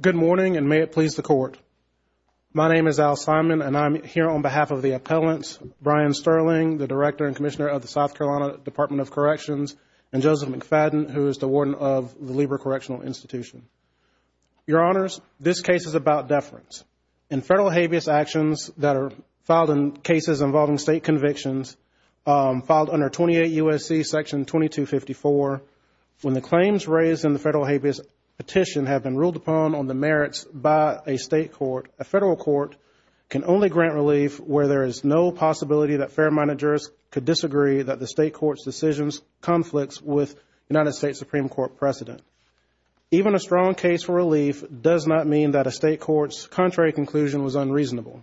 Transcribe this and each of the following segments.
Good morning and may it please the court. My name is Al Simon and I'm here on behalf of the appellants, Bryan Stirling, the Director and Commissioner of the South Carolina Department of Corrections, and Joseph McFadden, who is the Warden of the Lieber Correctional Institution. Your Honors, this case is about deference. In federal habeas actions that are filed in cases involving state convictions, filed under 28 U.S.C. section 2254, when the claims raised in the federal habeas petition have been ruled upon on the merits by a state court, a federal court can only grant relief where there is no possibility that fair managers could disagree that the state court's decisions conflicts with United States Supreme Court precedent. Even a strong case for relief does not mean that a state court's contrary conclusion was unreasonable.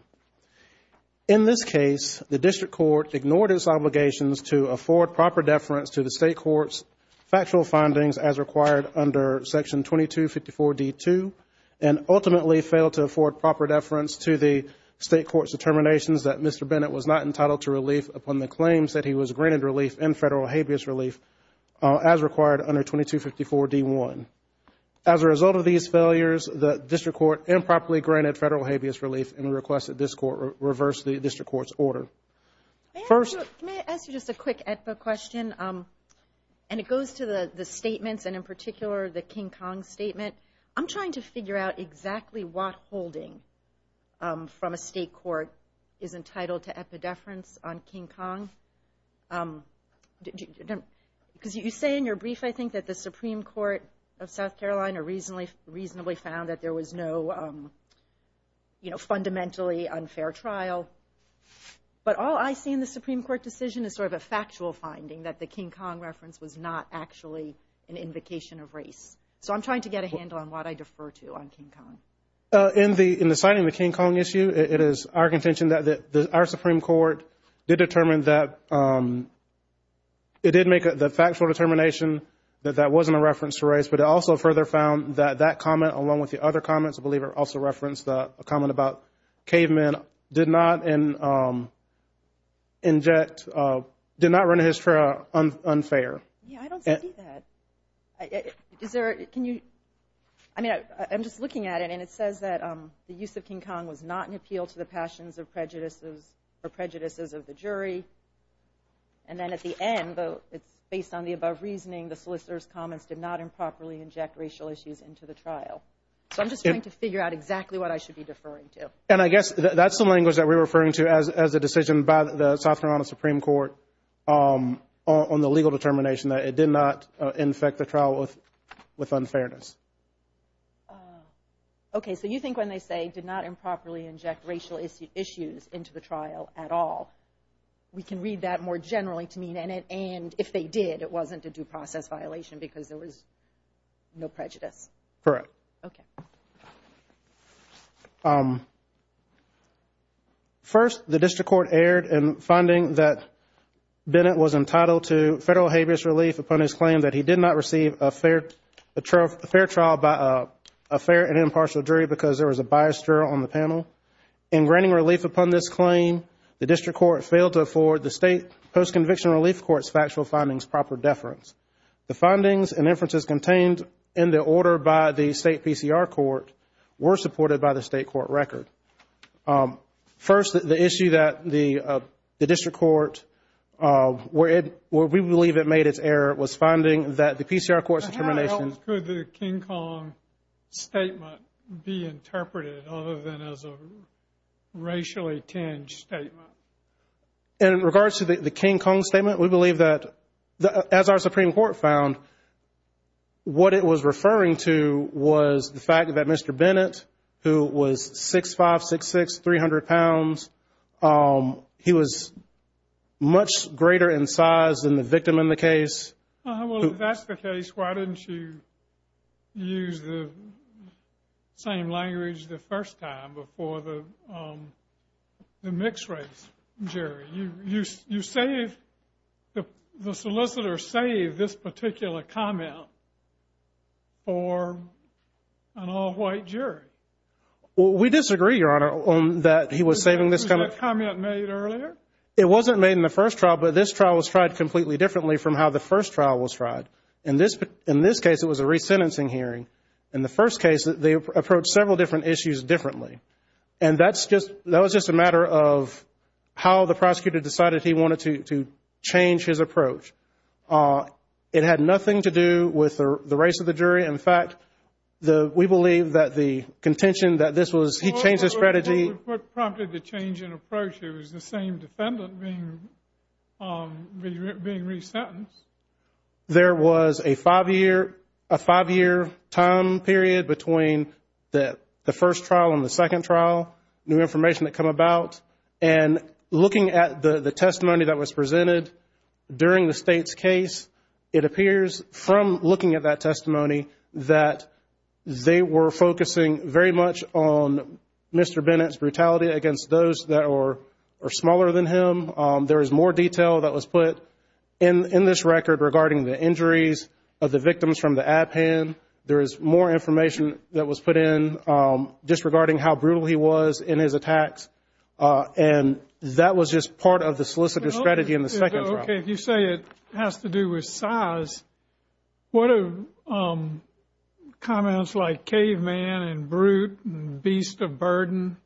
In this case, the district court ignored its obligations to afford proper deference to the state court's factual findings as required under section 2254 D.2 and ultimately failed to afford proper deference to the state court's determinations that Mr. Bennett was not entitled to relief upon the claims that he was granted relief in federal habeas relief as required under 2254 D.1. As a result of these failures, the district court improperly granted federal habeas relief and requested this court reverse the district court's order. May I ask you just a quick question? And it goes to the statements and in particular the King Kong statement. I'm trying to figure out exactly what holding from a state court is entitled to epidefference on King Kong. Because you say in your brief I think that the Supreme Court of South Carolina reasonably found that there was no fundamentally unfair trial. But all I see in the Supreme Court decision is sort of a factual finding that the King Kong reference was not actually an invocation of race. So I'm trying to get a handle on what I defer to on King Kong. In the signing of the King Kong issue, it is our contention that our Supreme Court did determine that it did make the factual determination that that wasn't a reference to race. But it also further found that that comment along with the other comments, I believe it also referenced a comment about cavemen, did not inject, did not run his trial unfair. Yeah, I don't see that. Can you, I mean I'm just looking at it and it says that the use of King Kong was not an appeal to the passions of prejudices or prejudices of the jury. And then at the end though it's based on the above reasoning, the solicitor's comments did not improperly inject racial issues into the trial. So I'm just going to figure out exactly what I should be deferring to. And I guess that's the language that we're referring to as a decision by the South Carolina Supreme Court on the legal determination that it did not infect the trial with with unfairness. Okay, so you think when they say did not improperly inject racial issues into the trial at all, we can read that more generally to mean and if they did it wasn't a due process violation because there was no prejudice? Correct. Okay. First, the district court erred in finding that Bennett was entitled to federal habeas relief upon his claim that he did not receive a fair trial by a fair and impartial jury because there was a biased juror on the panel. In granting relief upon this claim, the district court failed to afford the findings and inferences contained in the order by the state PCR court were supported by the state court record. First, the issue that the district court where we believe it made its error was finding that the PCR court's determination... How else could the King Kong statement be interpreted other than as a racially tinged statement? In regards to the King Kong statement, we believe that as our Supreme Court found, what it was referring to was the fact that Mr. Bennett, who was 6'5", 6'6", 300 pounds, he was much greater in size than the victim in the case. Well, if that's the case, why didn't you use the same language the first time before the particular comment for an all-white jury? Well, we disagree, Your Honor, on that he was saving this kind of... Was that comment made earlier? It wasn't made in the first trial, but this trial was tried completely differently from how the first trial was tried. In this case, it was a resentencing hearing. In the first case, they approached several different issues differently. And that's just... that was just a matter of how the prosecutor decided he wanted to change his approach. It had nothing to do with the race of the jury. In fact, we believe that the contention that this was... He changed his strategy. What prompted the change in approach? It was the same defendant being resentenced. There was a five-year time period between the first trial and the second trial, new information that came about. And looking at the testimony that was presented during the State's case, it appears, from looking at that testimony, that they were focusing very much on Mr. Bennett's brutality against those that are smaller than him. There is more detail that was put in this record regarding the injuries of the victims from the ad pan. There is more information that was put in disregarding how brutal he was in his attacks. And that was just part of the solicitor's strategy in the second trial. Okay. If you say it has to do with size, what are comments like caveman and brute and beast of burden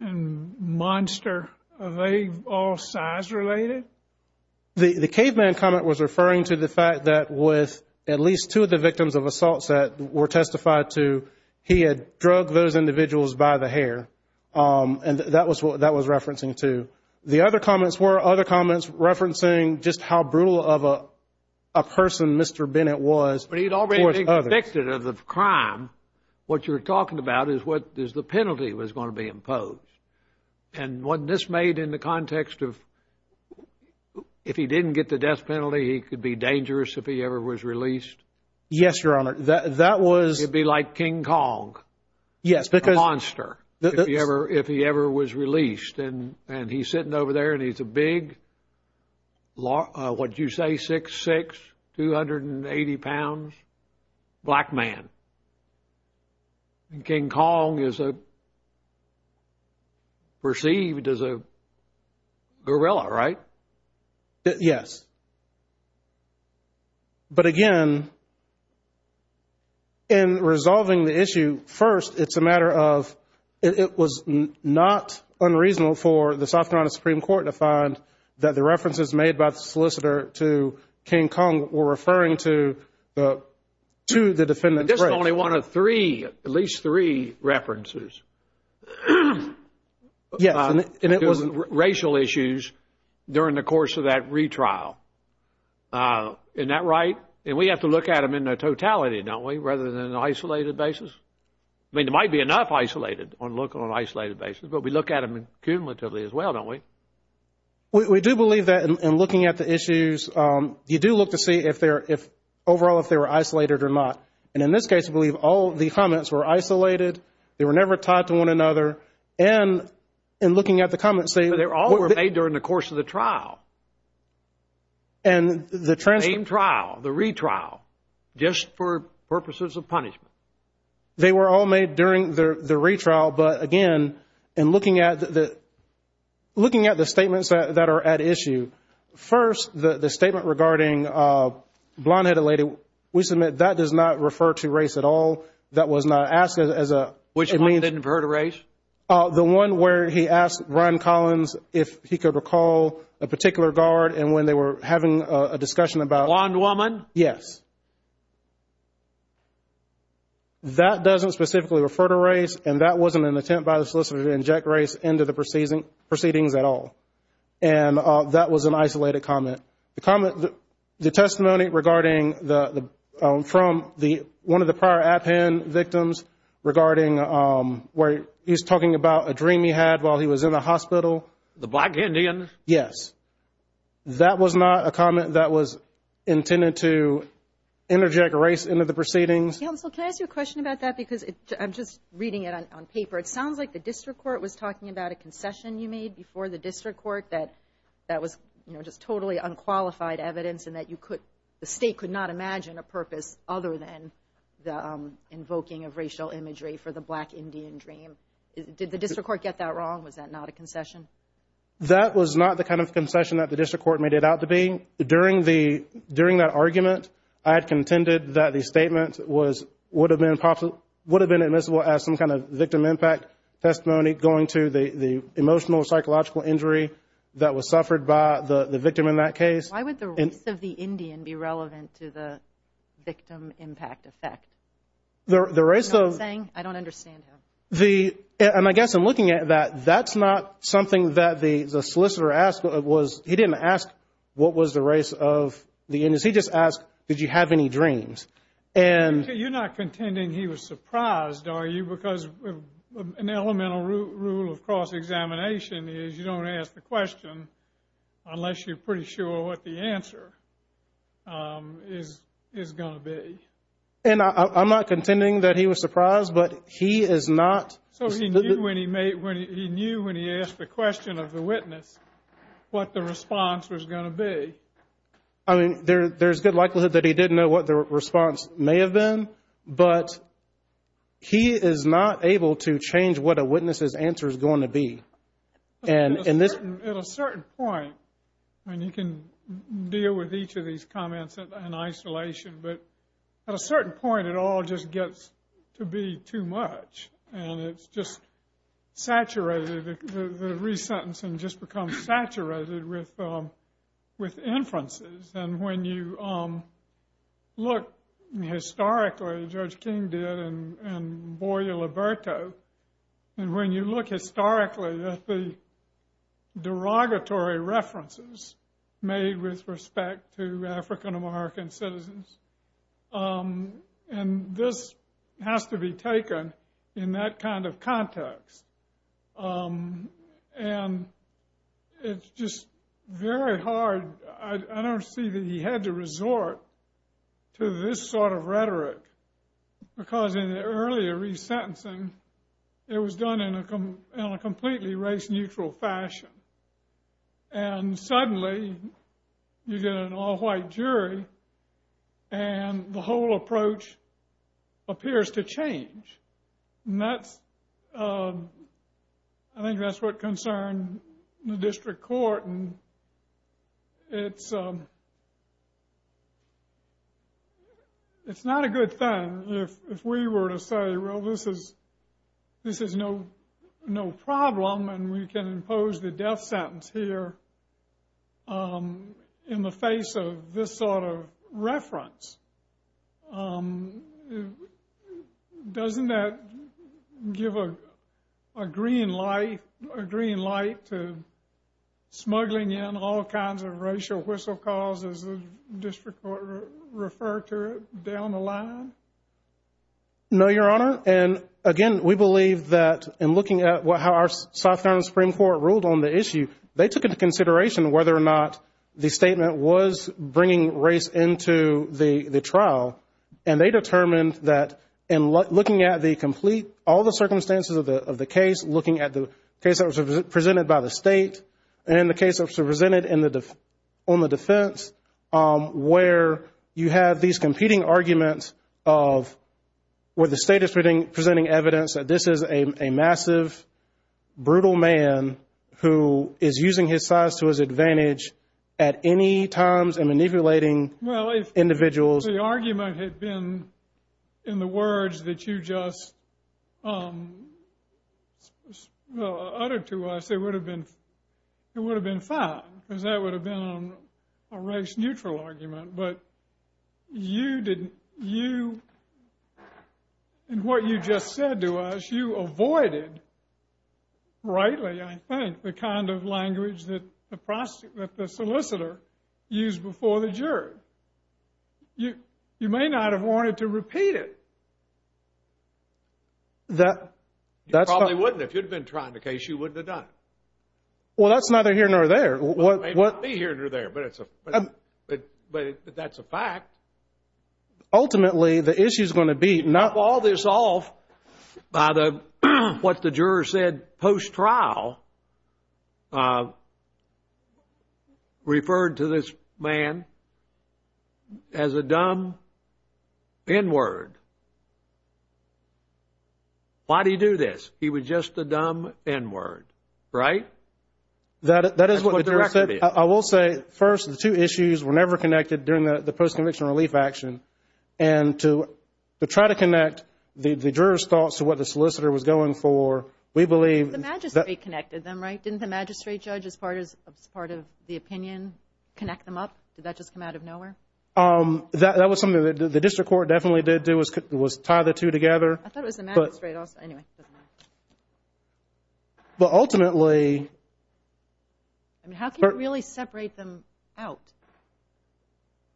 and monster, are they all size-related? The caveman comment was referring to the fact that with at least two of the victims of assaults that were testified to, he had drugged those individuals by the hair, and that was what that was referencing to. The other comments were other comments referencing just how brutal of a person Mr. Bennett was towards others. But he had already been convicted of the crime. What you're talking about is what is the penalty was going to be imposed. And wasn't this made in the context of if he didn't get the death penalty, he could be dangerous if he ever was released? Yes, Your Honor. That was… He'd be like King Kong, a monster, if he ever was released. And he's sitting over there, and he's a big, what did you say, 6'6", 280 pounds, black man. And King Kong is perceived as a gorilla, right? Yes. But again, in resolving the issue, first, it's a matter of it was not unreasonable for the South Carolina Supreme Court to find that the references made by the solicitor to King Kong were referring to the defendant's race. There was only one of three, at least three references. Yes, and it wasn't… It wasn't racial issues during the course of that retrial. Isn't that right? And we have to look at them in their totality, don't we, rather than on an isolated basis? I mean, there might be enough isolated, on an isolated basis, but we look at them cumulatively as well, don't we? We do believe that in looking at the issues. You do look to see if they're, overall, if they were isolated or not. And in this case, we believe all of the comments were isolated. They were never tied to one another. And in looking at the comments… But they all were made during the course of the trial. And the… Same trial, the retrial, just for purposes of punishment. They were all made during the retrial, but again, in looking at the statements that are at issue, first, the statement regarding blonde-headed lady, we submit that does not refer to race at all. That was not asked as a… Which one didn't refer to race? The one where he asked Ron Collins if he could recall a particular guard, and when they were having a discussion about… Blonde woman? Yes. That doesn't specifically refer to race, and that wasn't an attempt by the solicitor to inject race into the proceedings at all. And that was an isolated comment. The comment… The testimony regarding the… From the… One of the prior Appen victims regarding where he's talking about a dream he had while he was in the hospital. The black Indian? Yes. That was not a comment that was intended to interject race into the proceedings. Counsel, can I ask you a question about that? Because I'm just reading it on paper. It sounds like the district court was talking about a concession you made before the district court that that was, you know, just totally unqualified evidence and that you could… The state could not imagine a purpose other than the invoking of racial imagery for the black Indian dream. Did the district court get that wrong? Was that not a concession? That was not the kind of concession that the district court made it out to be. During that argument, I had contended that the statement would have been admissible as some kind of victim impact testimony going to the emotional or psychological injury that was suffered by the victim in that case. Why would the race of the Indian be relevant to the victim impact effect? The race of… You know what I'm saying? I don't understand him. And I guess in looking at that, that's not something that the solicitor asked. He didn't ask what was the race of the Indians. He just asked, did you have any dreams? And… You're not contending he was surprised, are you? Because an elemental rule of cross-examination is you don't ask the question unless you're pretty sure what the answer is going to be. And I'm not contending that he was surprised, but he is not… So he knew when he asked the question of the witness what the response was going to be. I mean, there's good likelihood that he did know what the response may have been, but he is not able to change what a witness's answer is going to be. At a certain point, and you can deal with each of these comments in isolation, but at a certain point it all just gets to be too much, and it's just saturated. The re-sentencing just becomes saturated with inferences. And when you look historically, as Judge King did, and Boya Liberto, and when you look historically at the derogatory references made with respect to African-American citizens, and this has to be taken in that kind of context. And it's just very hard. I don't see that he had to resort to this sort of rhetoric, because in the earlier re-sentencing, it was done in a completely race-neutral fashion. And suddenly, you get an all-white jury, and the whole approach appears to change. And that's, I think that's what concerned the district court. And it's not a good thing if we were to say, well, this is no problem, and we can impose the death sentence here in the face of this sort of reference. Doesn't that give a green light to smuggling in all kinds of racial whistle-calls, as the district court referred to it, down the line? No, Your Honor. And again, we believe that in looking at how our South Carolina Supreme Court ruled on the issue, they took into consideration whether or not the statement was bringing race into the trial, and they determined that in looking at the complete, all the circumstances of the case, looking at the case that was presented by the state, and the case that was presented on the defense, where you have these competing arguments of where the state is presenting evidence that this is a massive, brutal man who is using his size to his advantage at any times in manipulating individuals. Well, if the argument had been in the words that you just uttered to us, it would have been fine, because that would have been a race-neutral argument. But you didn't, you, in what you just said to us, you avoided, rightly, I think, the kind of language that the solicitor used before the jury. You may not have wanted to repeat it. You probably wouldn't. If you'd been trying the case, you wouldn't have done it. Well, that's neither here nor there. Well, it may not be here nor there, but that's a fact. Ultimately, the issue is going to be not to fall this off by what the juror said post-trial, referred to this man as a dumb N-word. Why did he do this? He was just a dumb N-word, right? That is what the juror said. That's what the record is. I will say, first, the two issues were never connected during the post-conviction relief action. And to try to connect the juror's thoughts to what the solicitor was going for, we believe – The magistrate connected them, right? Didn't the magistrate judge, as part of the opinion, connect them up? Did that just come out of nowhere? That was something that the district court definitely did do, was tie the two together. I thought it was the magistrate also. Anyway, it doesn't matter. But ultimately – I mean, how can you really separate them out?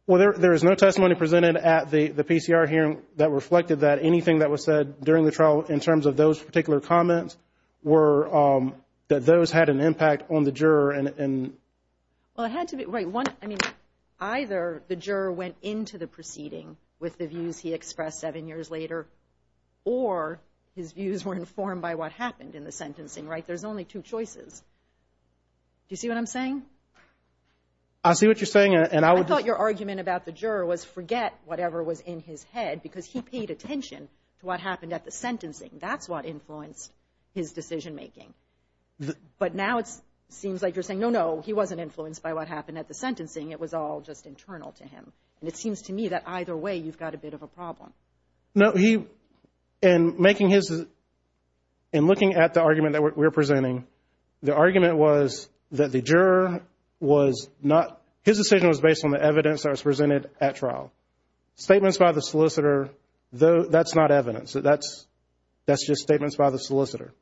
Well, there is no testimony presented at the PCR hearing that reflected that. Anything that was said during the trial in terms of those particular comments were – that those had an impact on the juror. Well, it had to be – right. I mean, either the juror went into the proceeding with the views he expressed seven years later or his views were informed by what happened in the sentencing, right? There's only two choices. Do you see what I'm saying? I see what you're saying, and I would just – I thought your argument about the juror was forget whatever was in his head because he paid attention to what happened at the sentencing. That's what influenced his decision-making. But now it seems like you're saying, no, no, he wasn't influenced by what happened at the sentencing. It was all just internal to him. And it seems to me that either way you've got a bit of a problem. No, he – in making his – in looking at the argument that we're presenting, the argument was that the juror was not – his decision was based on the evidence that was presented at trial. Statements by the solicitor, that's not evidence. That's just statements by the solicitor.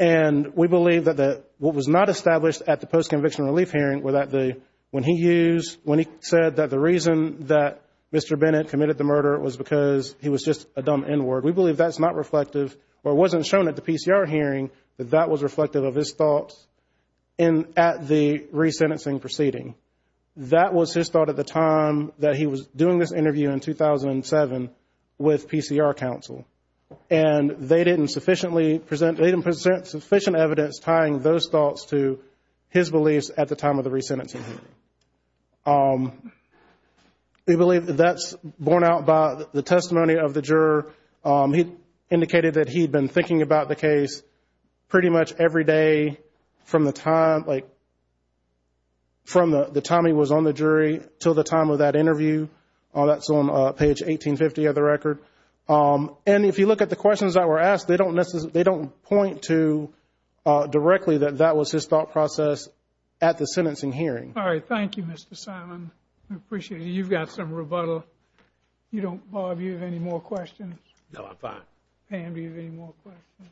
And we believe that what was not established at the post-conviction relief hearing were that when he used – when he said that the reason that Mr. Bennett committed the murder was because he was just a dumb N-word, we believe that's not reflective or wasn't shown at the PCR hearing that that was reflective of his thoughts at the resentencing proceeding. That was his thought at the time that he was doing this interview in 2007 with PCR counsel. And they didn't sufficiently present – they didn't present sufficient evidence tying those thoughts to his beliefs at the time of the resentencing hearing. We believe that that's borne out by the testimony of the juror. He indicated that he had been thinking about the case pretty much every day from the time, like from the time he was on the jury until the time of that interview. That's on page 1850 of the record. And if you look at the questions that were asked, they don't point to directly that that was his thought process at the sentencing hearing. All right, thank you, Mr. Simon. We appreciate it. You've got some rebuttal. Bob, do you have any more questions? No, I'm fine. Pam, do you have any more questions?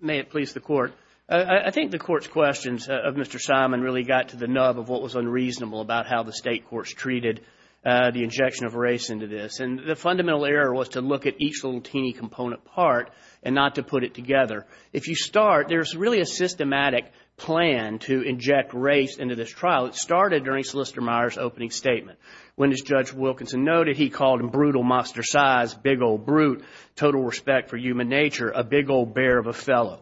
May it please the Court. I think the Court's questions of Mr. Simon really got to the nub of what was unreasonable about how the state courts treated the injection of race into this. And the fundamental error was to look at each little teeny component part and not to put it together. If you start, there's really a systematic plan to inject race into this trial. It started during Solicitor Meyer's opening statement when, as Judge Wilkinson noted, he called him brutal, monster-sized, big old brute, total respect for human nature, a big old bear of a fellow.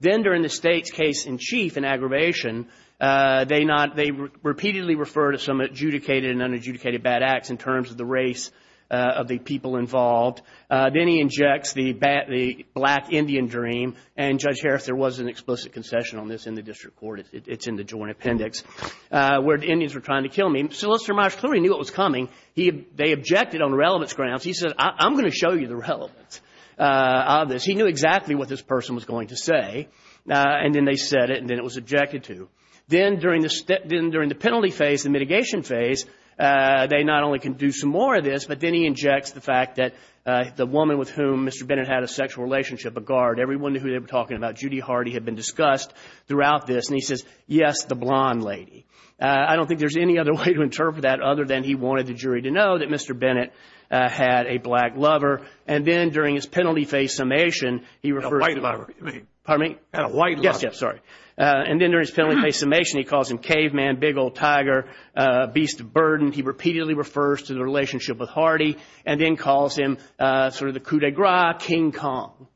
Then during the state's case in chief in aggravation, they repeatedly refer to some adjudicated and unadjudicated bad acts in terms of the race of the people involved. Then he injects the black Indian dream. And, Judge Harris, there was an explicit concession on this in the district court. It's in the joint appendix where the Indians were trying to kill me. Solicitor Meyer clearly knew it was coming. They objected on relevance grounds. He said, I'm going to show you the relevance of this. He knew exactly what this person was going to say. And then they said it, and then it was objected to. Then during the penalty phase, the mitigation phase, they not only can do some more of this, but then he injects the fact that the woman with whom Mr. Bennett had a sexual relationship, a guard, everyone who they were talking about, Judy Hardy, had been discussed throughout this. And he says, yes, the blonde lady. I don't think there's any other way to interpret that other than he wanted the jury to know that Mr. Bennett had a black lover. And then during his penalty phase summation, he refers to the – A white lover, you mean? Pardon me? A white lover. Yes, yes, sorry. And then during his penalty phase summation, he calls him caveman, big old tiger, beast of burden. He repeatedly refers to the relationship with Hardy and then calls him sort of the coup de grace, King Kong.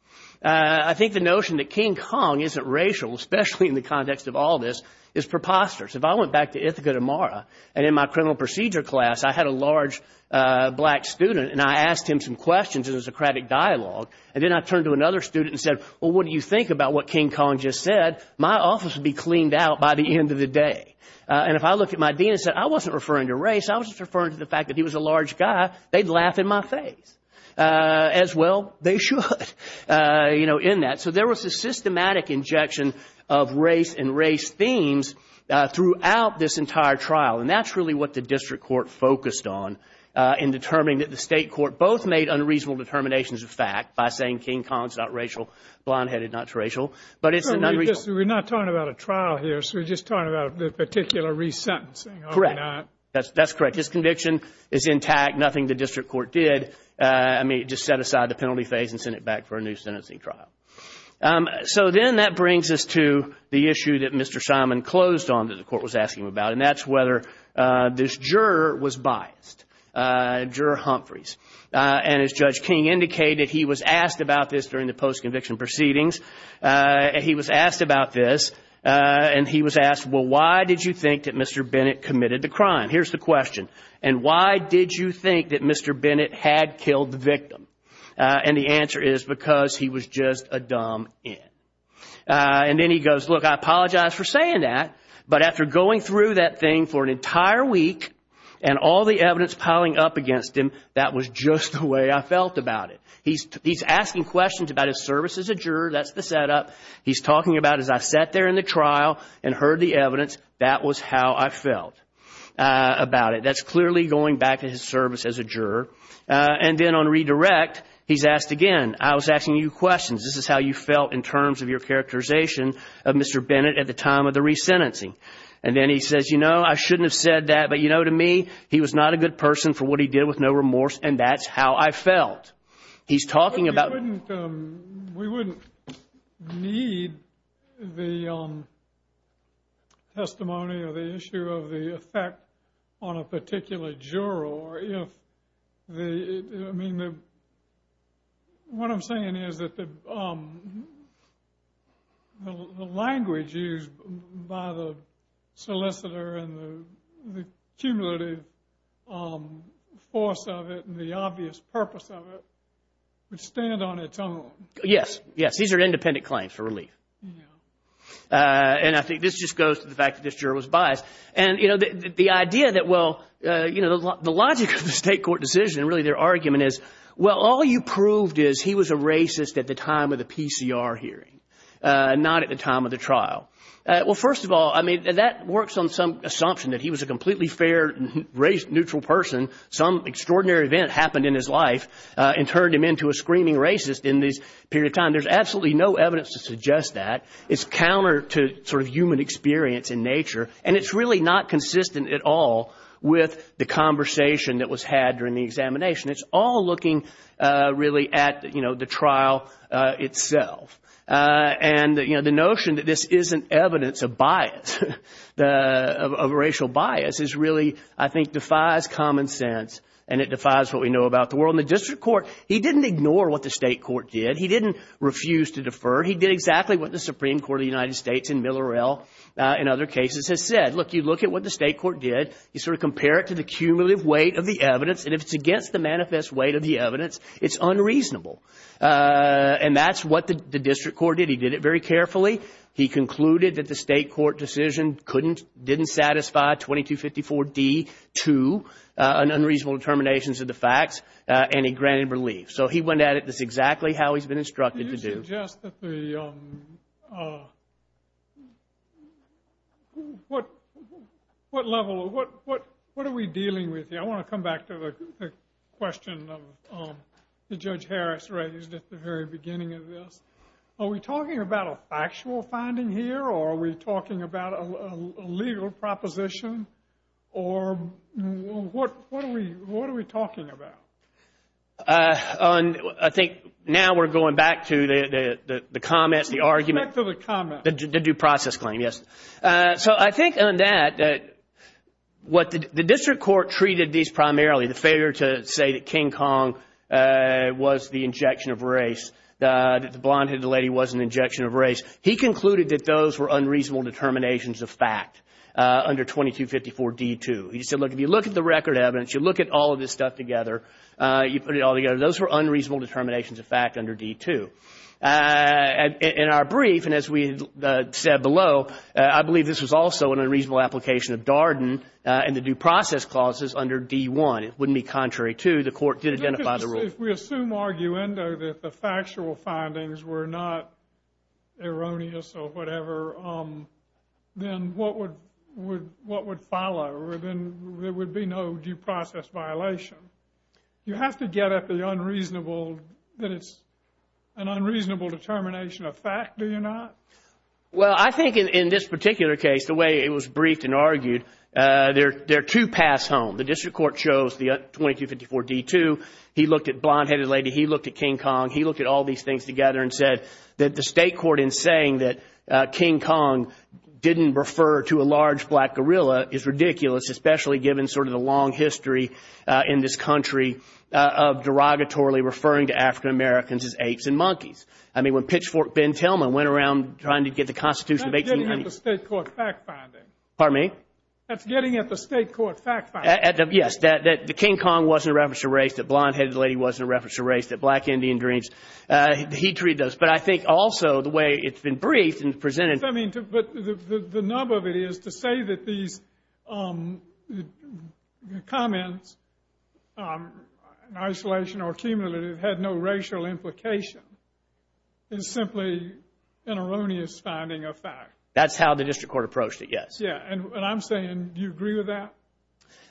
I think the notion that King Kong isn't racial, especially in the context of all this, is preposterous. If I went back to Ithaca de Mara and in my criminal procedure class I had a large black student and I asked him some questions in a Socratic dialogue, and then I turned to another student and said, well, what do you think about what King Kong just said? My office would be cleaned out by the end of the day. And if I looked at my dean and said, I wasn't referring to race, I was just referring to the fact that he was a large guy, they'd laugh in my face. As well, they should, you know, in that. So there was a systematic injection of race and race themes throughout this entire trial. And that's really what the district court focused on in determining that the state court both made unreasonable determinations of fact by saying King Kong's not racial, blonde-headed not racial. But it's an unreasonable – We're not talking about a trial here. We're just talking about the particular resentencing. Correct. That's correct. His conviction is intact. Nothing the district court did. I mean, it just set aside the penalty phase and sent it back for a new sentencing trial. So then that brings us to the issue that Mr. Simon closed on that the court was asking about, and that's whether this juror was biased, Juror Humphreys. And as Judge King indicated, he was asked about this during the post-conviction proceedings. He was asked about this, and he was asked, well, why did you think that Mr. Bennett committed the crime? Here's the question. And why did you think that Mr. Bennett had killed the victim? And the answer is because he was just a dumb in. And then he goes, look, I apologize for saying that, but after going through that thing for an entire week and all the evidence piling up against him, that was just the way I felt about it. He's asking questions about his service as a juror. That's the setup. He's talking about, as I sat there in the trial and heard the evidence, that was how I felt about it. That's clearly going back to his service as a juror. And then on redirect, he's asked again, I was asking you questions. This is how you felt in terms of your characterization of Mr. Bennett at the time of the resentencing. And then he says, you know, I shouldn't have said that, but, you know, to me, he was not a good person for what he did with no remorse, and that's how I felt. He's talking about. We wouldn't need the testimony or the issue of the effect on a particular juror. I mean, what I'm saying is that the language used by the solicitor and the cumulative force of it and the obvious purpose of it would stand on its own. Yes, yes. These are independent claims for relief. And I think this just goes to the fact that this juror was biased. And, you know, the idea that, well, you know, the logic of the State court decision, really their argument is, well, all you proved is he was a racist at the time of the PCR hearing, not at the time of the trial. Well, first of all, I mean, that works on some assumption that he was a completely fair, neutral person. Some extraordinary event happened in his life and turned him into a screaming racist in this period of time. There's absolutely no evidence to suggest that. It's counter to sort of human experience in nature. And it's really not consistent at all with the conversation that was had during the examination. It's all looking really at, you know, the trial itself. And, you know, the notion that this isn't evidence of bias, of racial bias, is really, I think, defies common sense, and it defies what we know about the world. And the district court, he didn't ignore what the State court did. He didn't refuse to defer. He did exactly what the Supreme Court of the United States in Millerell, in other cases, has said. Look, you look at what the State court did. You sort of compare it to the cumulative weight of the evidence, and if it's against the manifest weight of the evidence, it's unreasonable. And that's what the district court did. He did it very carefully. He concluded that the State court decision couldn't, didn't satisfy 2254D-2, an unreasonable determination of the facts, and he granted relief. So he went at it just exactly how he's been instructed to do. I would suggest that the, what level, what are we dealing with here? I want to come back to the question that Judge Harris raised at the very beginning of this. Are we talking about a factual finding here, or are we talking about a legal proposition, or what are we talking about? I think now we're going back to the comments, the argument. Back to the comments. The due process claim, yes. So I think on that, what the district court treated these primarily, the failure to say that King Kong was the injection of race, that the blonde-headed lady was an injection of race, he concluded that those were unreasonable determinations of fact under 2254D-2. He said, look, if you look at the record evidence, you look at all of this stuff together, you put it all together, those were unreasonable determinations of fact under 2254D-2. In our brief, and as we said below, I believe this was also an unreasonable application of Darden and the due process clauses under 2254D-1. It wouldn't be contrary to the court did identify the rule. If we assume arguendo that the factual findings were not erroneous or whatever, then what would follow? Then there would be no due process violation. You have to get at the unreasonable, that it's an unreasonable determination of fact, do you not? Well, I think in this particular case, the way it was briefed and argued, there are two paths home. The district court chose the 2254D-2. He looked at blonde-headed lady. He looked at King Kong. He looked at all these things together and said that the state court, in saying that King Kong didn't refer to a large black gorilla, is ridiculous, especially given sort of the long history in this country of derogatorily referring to African Americans as apes and monkeys. I mean, when pitchfork Ben Tillman went around trying to get the Constitution of 1890— That's getting at the state court fact finding. Pardon me? That's getting at the state court fact finding. Yes, that the King Kong wasn't a reference to race, that blonde-headed lady wasn't a reference to race, that black Indian dreams, he'd treat those. But I think also the way it's been briefed and presented— I mean, but the nub of it is to say that these comments, in isolation or cumulative, had no racial implication is simply an erroneous finding of fact. That's how the district court approached it, yes. Yes, and I'm saying, do you agree with that?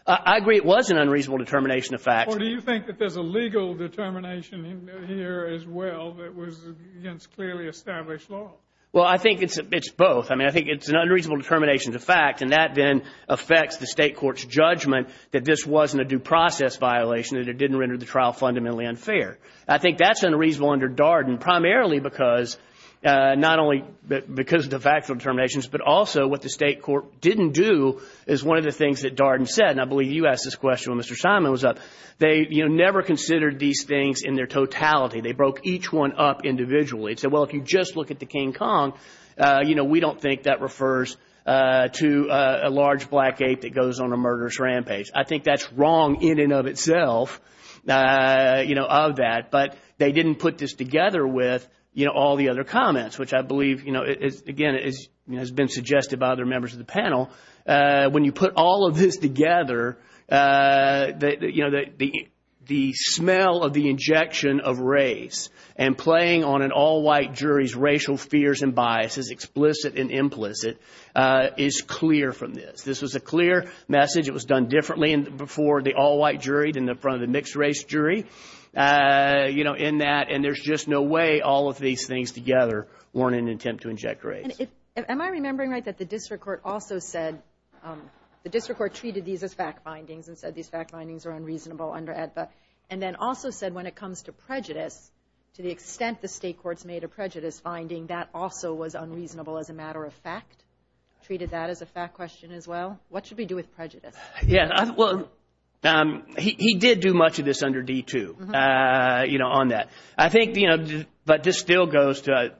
I agree it was an unreasonable determination of fact. Or do you think that there's a legal determination here as well that was against clearly established law? Well, I think it's both. I mean, I think it's an unreasonable determination of fact, and that then affects the state court's judgment that this wasn't a due process violation, that it didn't render the trial fundamentally unfair. I think that's unreasonable under Darden primarily because not only because of the factual determinations, but also what the state court didn't do is one of the things that Darden said, and I believe you asked this question when Mr. Simon was up. They never considered these things in their totality. They broke each one up individually and said, well, if you just look at the King Kong, we don't think that refers to a large black ape that goes on a murderous rampage. I think that's wrong in and of itself, of that. But they didn't put this together with all the other comments, which I believe, again, has been suggested by other members of the panel. When you put all of this together, the smell of the injection of race and playing on an all-white jury's racial fears and biases, explicit and implicit, is clear from this. This was a clear message. It was done differently before the all-white jury than in front of the mixed-race jury in that, and there's just no way all of these things together weren't an attempt to inject race. Am I remembering right that the district court also said the district court treated these as fact findings and said these fact findings are unreasonable under AEDPA, and then also said when it comes to prejudice, to the extent the state courts made a prejudice finding, that also was unreasonable as a matter of fact? Treated that as a fact question as well? What should we do with prejudice? Yeah, well, he did do much of this under D2 on that. I think, but this still goes to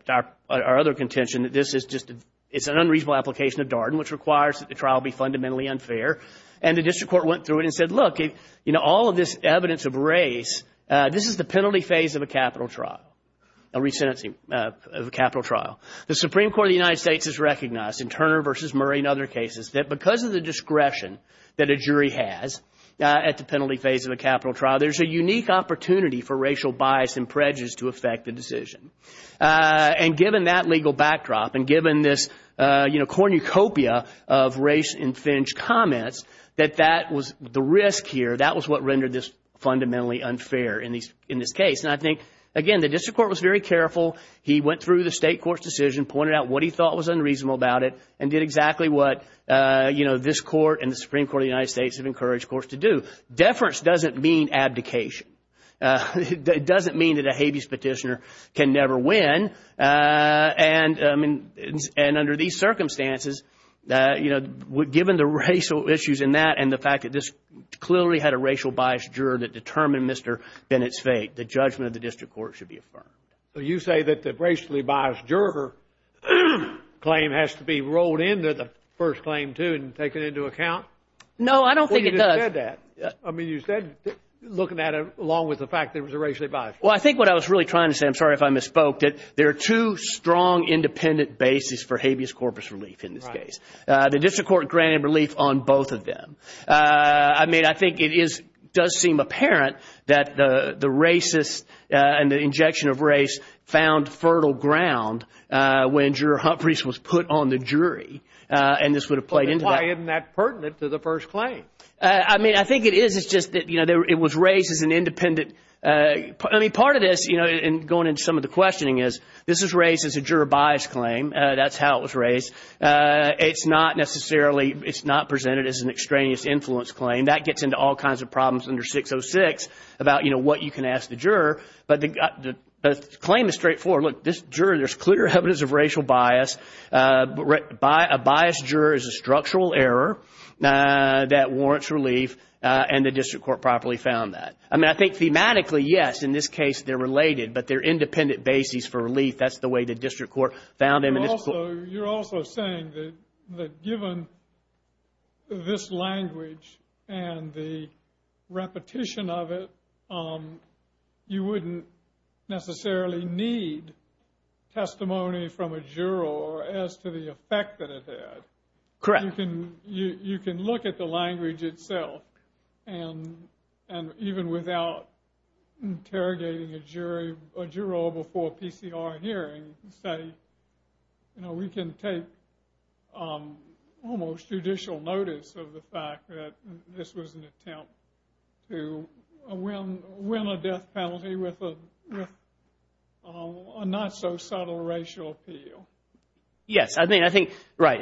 our other contention that this is just an unreasonable application of Darden, which requires that the trial be fundamentally unfair, and the district court went through it and said, look, all of this evidence of race, this is the penalty phase of a capital trial, a resentencing of a capital trial. The Supreme Court of the United States has recognized in Turner v. Murray and other cases that because of the discretion that a jury has at the penalty phase of a capital trial, there's a unique opportunity for racial bias and prejudice to affect the decision. And given that legal backdrop and given this cornucopia of race-infringed comments, that that was the risk here, that was what rendered this fundamentally unfair in this case. And I think, again, the district court was very careful. He went through the state court's decision, pointed out what he thought was unreasonable about it, and did exactly what this court and the Supreme Court of the United States have encouraged courts to do. Deference doesn't mean abdication. It doesn't mean that a habeas petitioner can never win. And under these circumstances, given the racial issues in that and the fact that this clearly had a racial bias juror that determined Mr. Bennett's fate, the judgment of the district court should be affirmed. So you say that the racially biased juror claim has to be rolled into the first claim, too, and taken into account? No, I don't think it does. You said that. I mean, you said looking at it along with the fact that it was a racially biased juror. Well, I think what I was really trying to say, I'm sorry if I misspoke, that there are two strong independent bases for habeas corpus relief in this case. Right. The district court granted relief on both of them. I mean, I think it does seem apparent that the racist and the injection of race found fertile ground when Juror Humphreys was put on the jury, and this would have played into that. I mean, I think it is. It's just that it was raised as an independent. I mean, part of this, and going into some of the questioning, is this is raised as a juror bias claim. That's how it was raised. It's not necessarily presented as an extraneous influence claim. That gets into all kinds of problems under 606 about what you can ask the juror. But the claim is straightforward. Look, this juror, there's clear evidence of racial bias. A biased juror is a structural error that warrants relief, and the district court properly found that. I mean, I think thematically, yes, in this case they're related, but they're independent bases for relief. That's the way the district court found them. You're also saying that given this language and the repetition of it, you wouldn't necessarily need testimony from a juror as to the effect that it had. Correct. You can look at the language itself, and even without interrogating a juror before a PCR hearing, say, you know, we can take almost judicial notice of the fact that this was an attempt to win a death penalty with a not-so-subtle racial appeal. Yes. I mean, I think, right.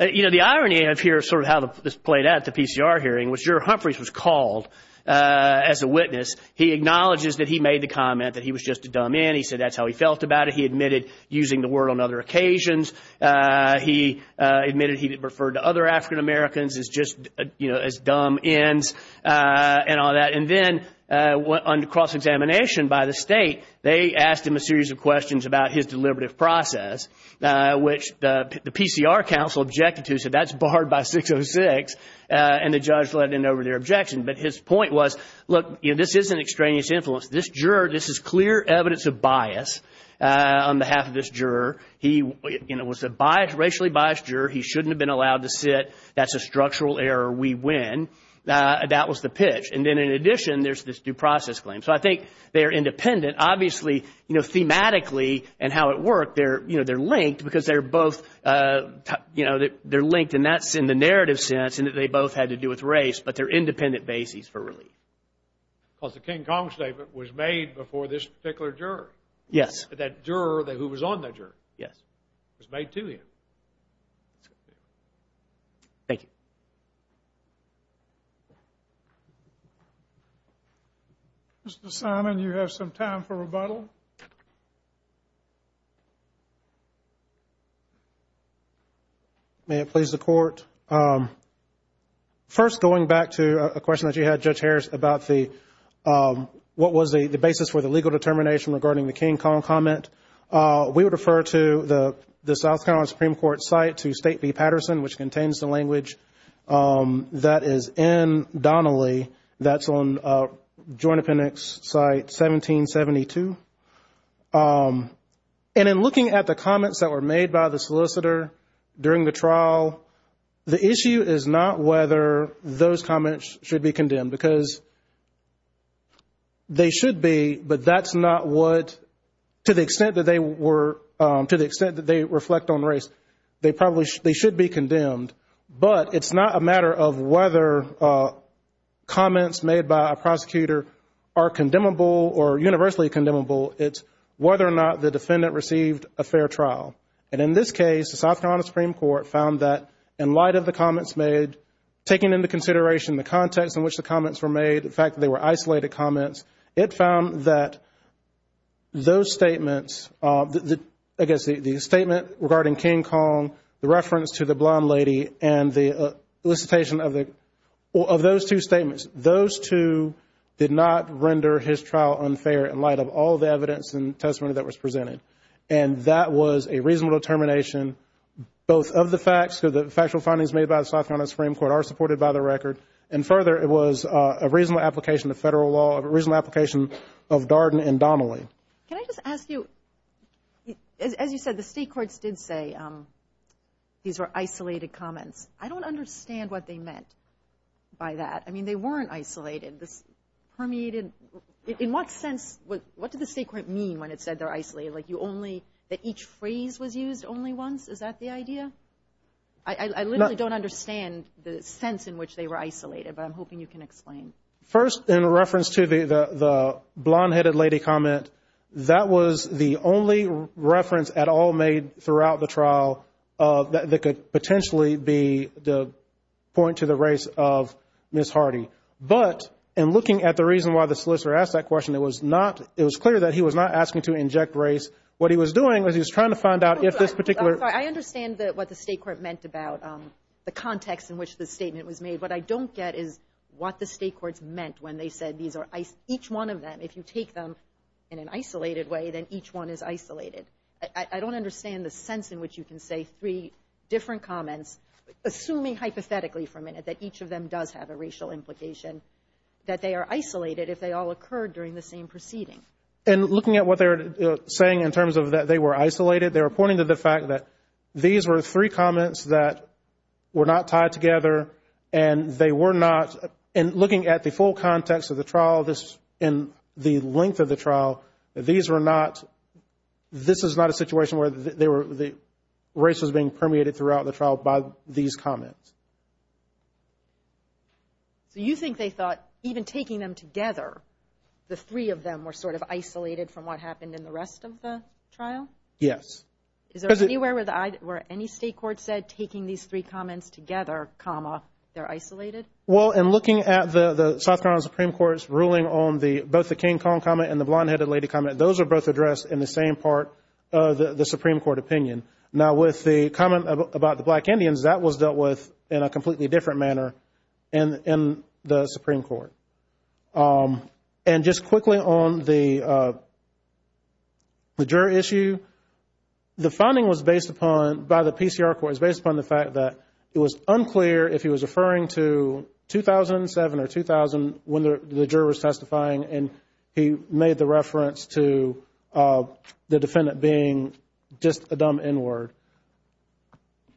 You know, the irony of here is sort of how this played out at the PCR hearing. When Juror Humphreys was called as a witness, he acknowledges that he made the comment that he was just a dumb end. He said that's how he felt about it. He admitted using the word on other occasions. He admitted he referred to other African Americans as just, you know, as dumb ends and all that. And then on cross-examination by the state, they asked him a series of questions about his deliberative process, which the PCR counsel objected to. So that's barred by 606, and the judge let in over their objection. But his point was, look, this isn't extraneous influence. This juror, this is clear evidence of bias on behalf of this juror. He was a racially biased juror. He shouldn't have been allowed to sit. That's a structural error. We win. That was the pitch. And then in addition, there's this due process claim. So I think they're independent. Obviously, you know, thematically and how it worked, they're linked because they're both, you know, they're linked. And that's in the narrative sense in that they both had to do with race, but they're independent bases for relief. Because the King Kong statement was made before this particular juror. Yes. That juror who was on that jury. Yes. It was made to him. Thank you. Mr. Simon, you have some time for rebuttal. May it please the Court. First, going back to a question that you had, Judge Harris, about what was the basis for the legal determination regarding the King Kong comment. We would refer to the South Carolina Supreme Court site to State v. Patterson, which contains the language that is in Donnelly. That's on Joint Appendix Site 1772. And in looking at the comments that were made by the solicitor during the trial, the issue is not whether those comments should be condemned. Because they should be, but that's not what, to the extent that they were, to the extent that they reflect on race, they probably, they should be condemned. But it's not a matter of whether comments made by a prosecutor are condemnable or universally condemnable. It's whether or not the defendant received a fair trial. And in this case, the South Carolina Supreme Court found that, in light of the comments made, taking into consideration the context in which the comments were made, the fact that they were isolated comments, it found that those statements, I guess the statement regarding King Kong, the reference to the blonde lady, and the elicitation of those two statements, those two did not render his trial unfair in light of all the evidence and testimony that was presented. And that was a reasonable determination, both of the facts, the factual findings made by the South Carolina Supreme Court are supported by the record, and further, it was a reasonable application of federal law, a reasonable application of Darden and Donnelly. Can I just ask you, as you said, the state courts did say these were isolated comments. I don't understand what they meant by that. I mean, they weren't isolated. This permeated, in what sense, what did the state court mean when it said they're isolated? Like you only, that each phrase was used only once? Is that the idea? I literally don't understand the sense in which they were isolated, but I'm hoping you can explain. First, in reference to the blonde-headed lady comment, that was the only reference at all made throughout the trial that could potentially be the point to the race of Ms. Hardy. But in looking at the reason why the solicitor asked that question, it was not, it was clear that he was not asking to inject race. What he was doing was he was trying to find out if this particular. I understand what the state court meant about the context in which the statement was made. What I don't get is what the state courts meant when they said these are, each one of them, if you take them in an isolated way, then each one is isolated. I don't understand the sense in which you can say three different comments, assuming hypothetically for a minute that each of them does have a racial implication, that they are isolated if they all occurred during the same proceeding. And looking at what they're saying in terms of that they were isolated, they're pointing to the fact that these were three comments that were not tied together and they were not, and looking at the full context of the trial, this, and the length of the trial, these were not, this is not a situation where they were, race was being permeated throughout the trial by these comments. So you think they thought even taking them together, the three of them were sort of isolated from what happened in the rest of the trial? Yes. Is there anywhere where any state court said taking these three comments together, comma, they're isolated? Well, in looking at the South Carolina Supreme Court's ruling on both the King Kong comment and the blonde-headed lady comment, those are both addressed in the same part of the Supreme Court opinion. Now, with the comment about the black Indians, that was dealt with in a completely different manner in the Supreme Court. And just quickly on the juror issue, the finding was based upon, by the PCR court, was based upon the fact that it was unclear if he was referring to 2007 or 2000 when the juror was testifying and he made the reference to the defendant being just a dumb N-word.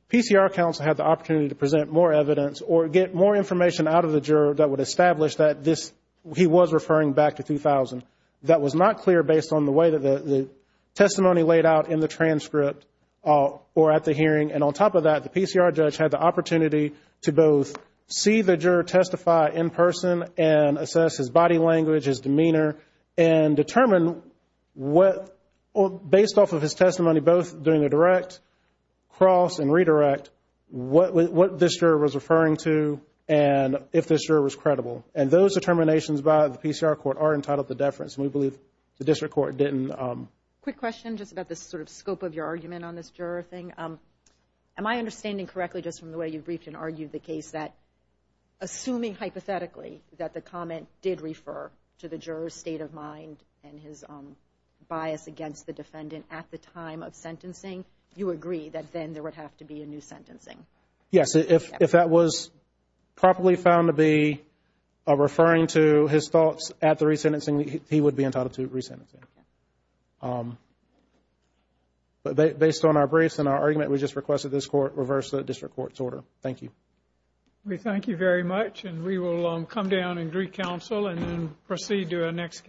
PCR counsel had the opportunity to present more evidence or get more information out of the juror that would establish that this, he was referring back to 2000. That was not clear based on the way that the testimony laid out in the transcript or at the hearing, and on top of that, the PCR judge had the opportunity to both see the juror testify in person and assess his body language, his demeanor, and determine what, based off of his testimony, both doing a direct cross and redirect, what this juror was referring to and if this juror was credible. And those determinations by the PCR court are entitled to deference, and we believe the district court didn't. Quick question just about the sort of scope of your argument on this juror thing. Am I understanding correctly, just from the way you briefed and argued the case, that assuming hypothetically that the comment did refer to the juror's state of mind and his bias against the defendant at the time of sentencing, you agree that then there would have to be a new sentencing? Yes. If that was properly found to be referring to his thoughts at the resentencing, he would be entitled to resentencing. But based on our briefs and our argument, we just requested this court reverse the district court's order. Thank you. We thank you very much, and we will come down and greet counsel and then proceed to our next case.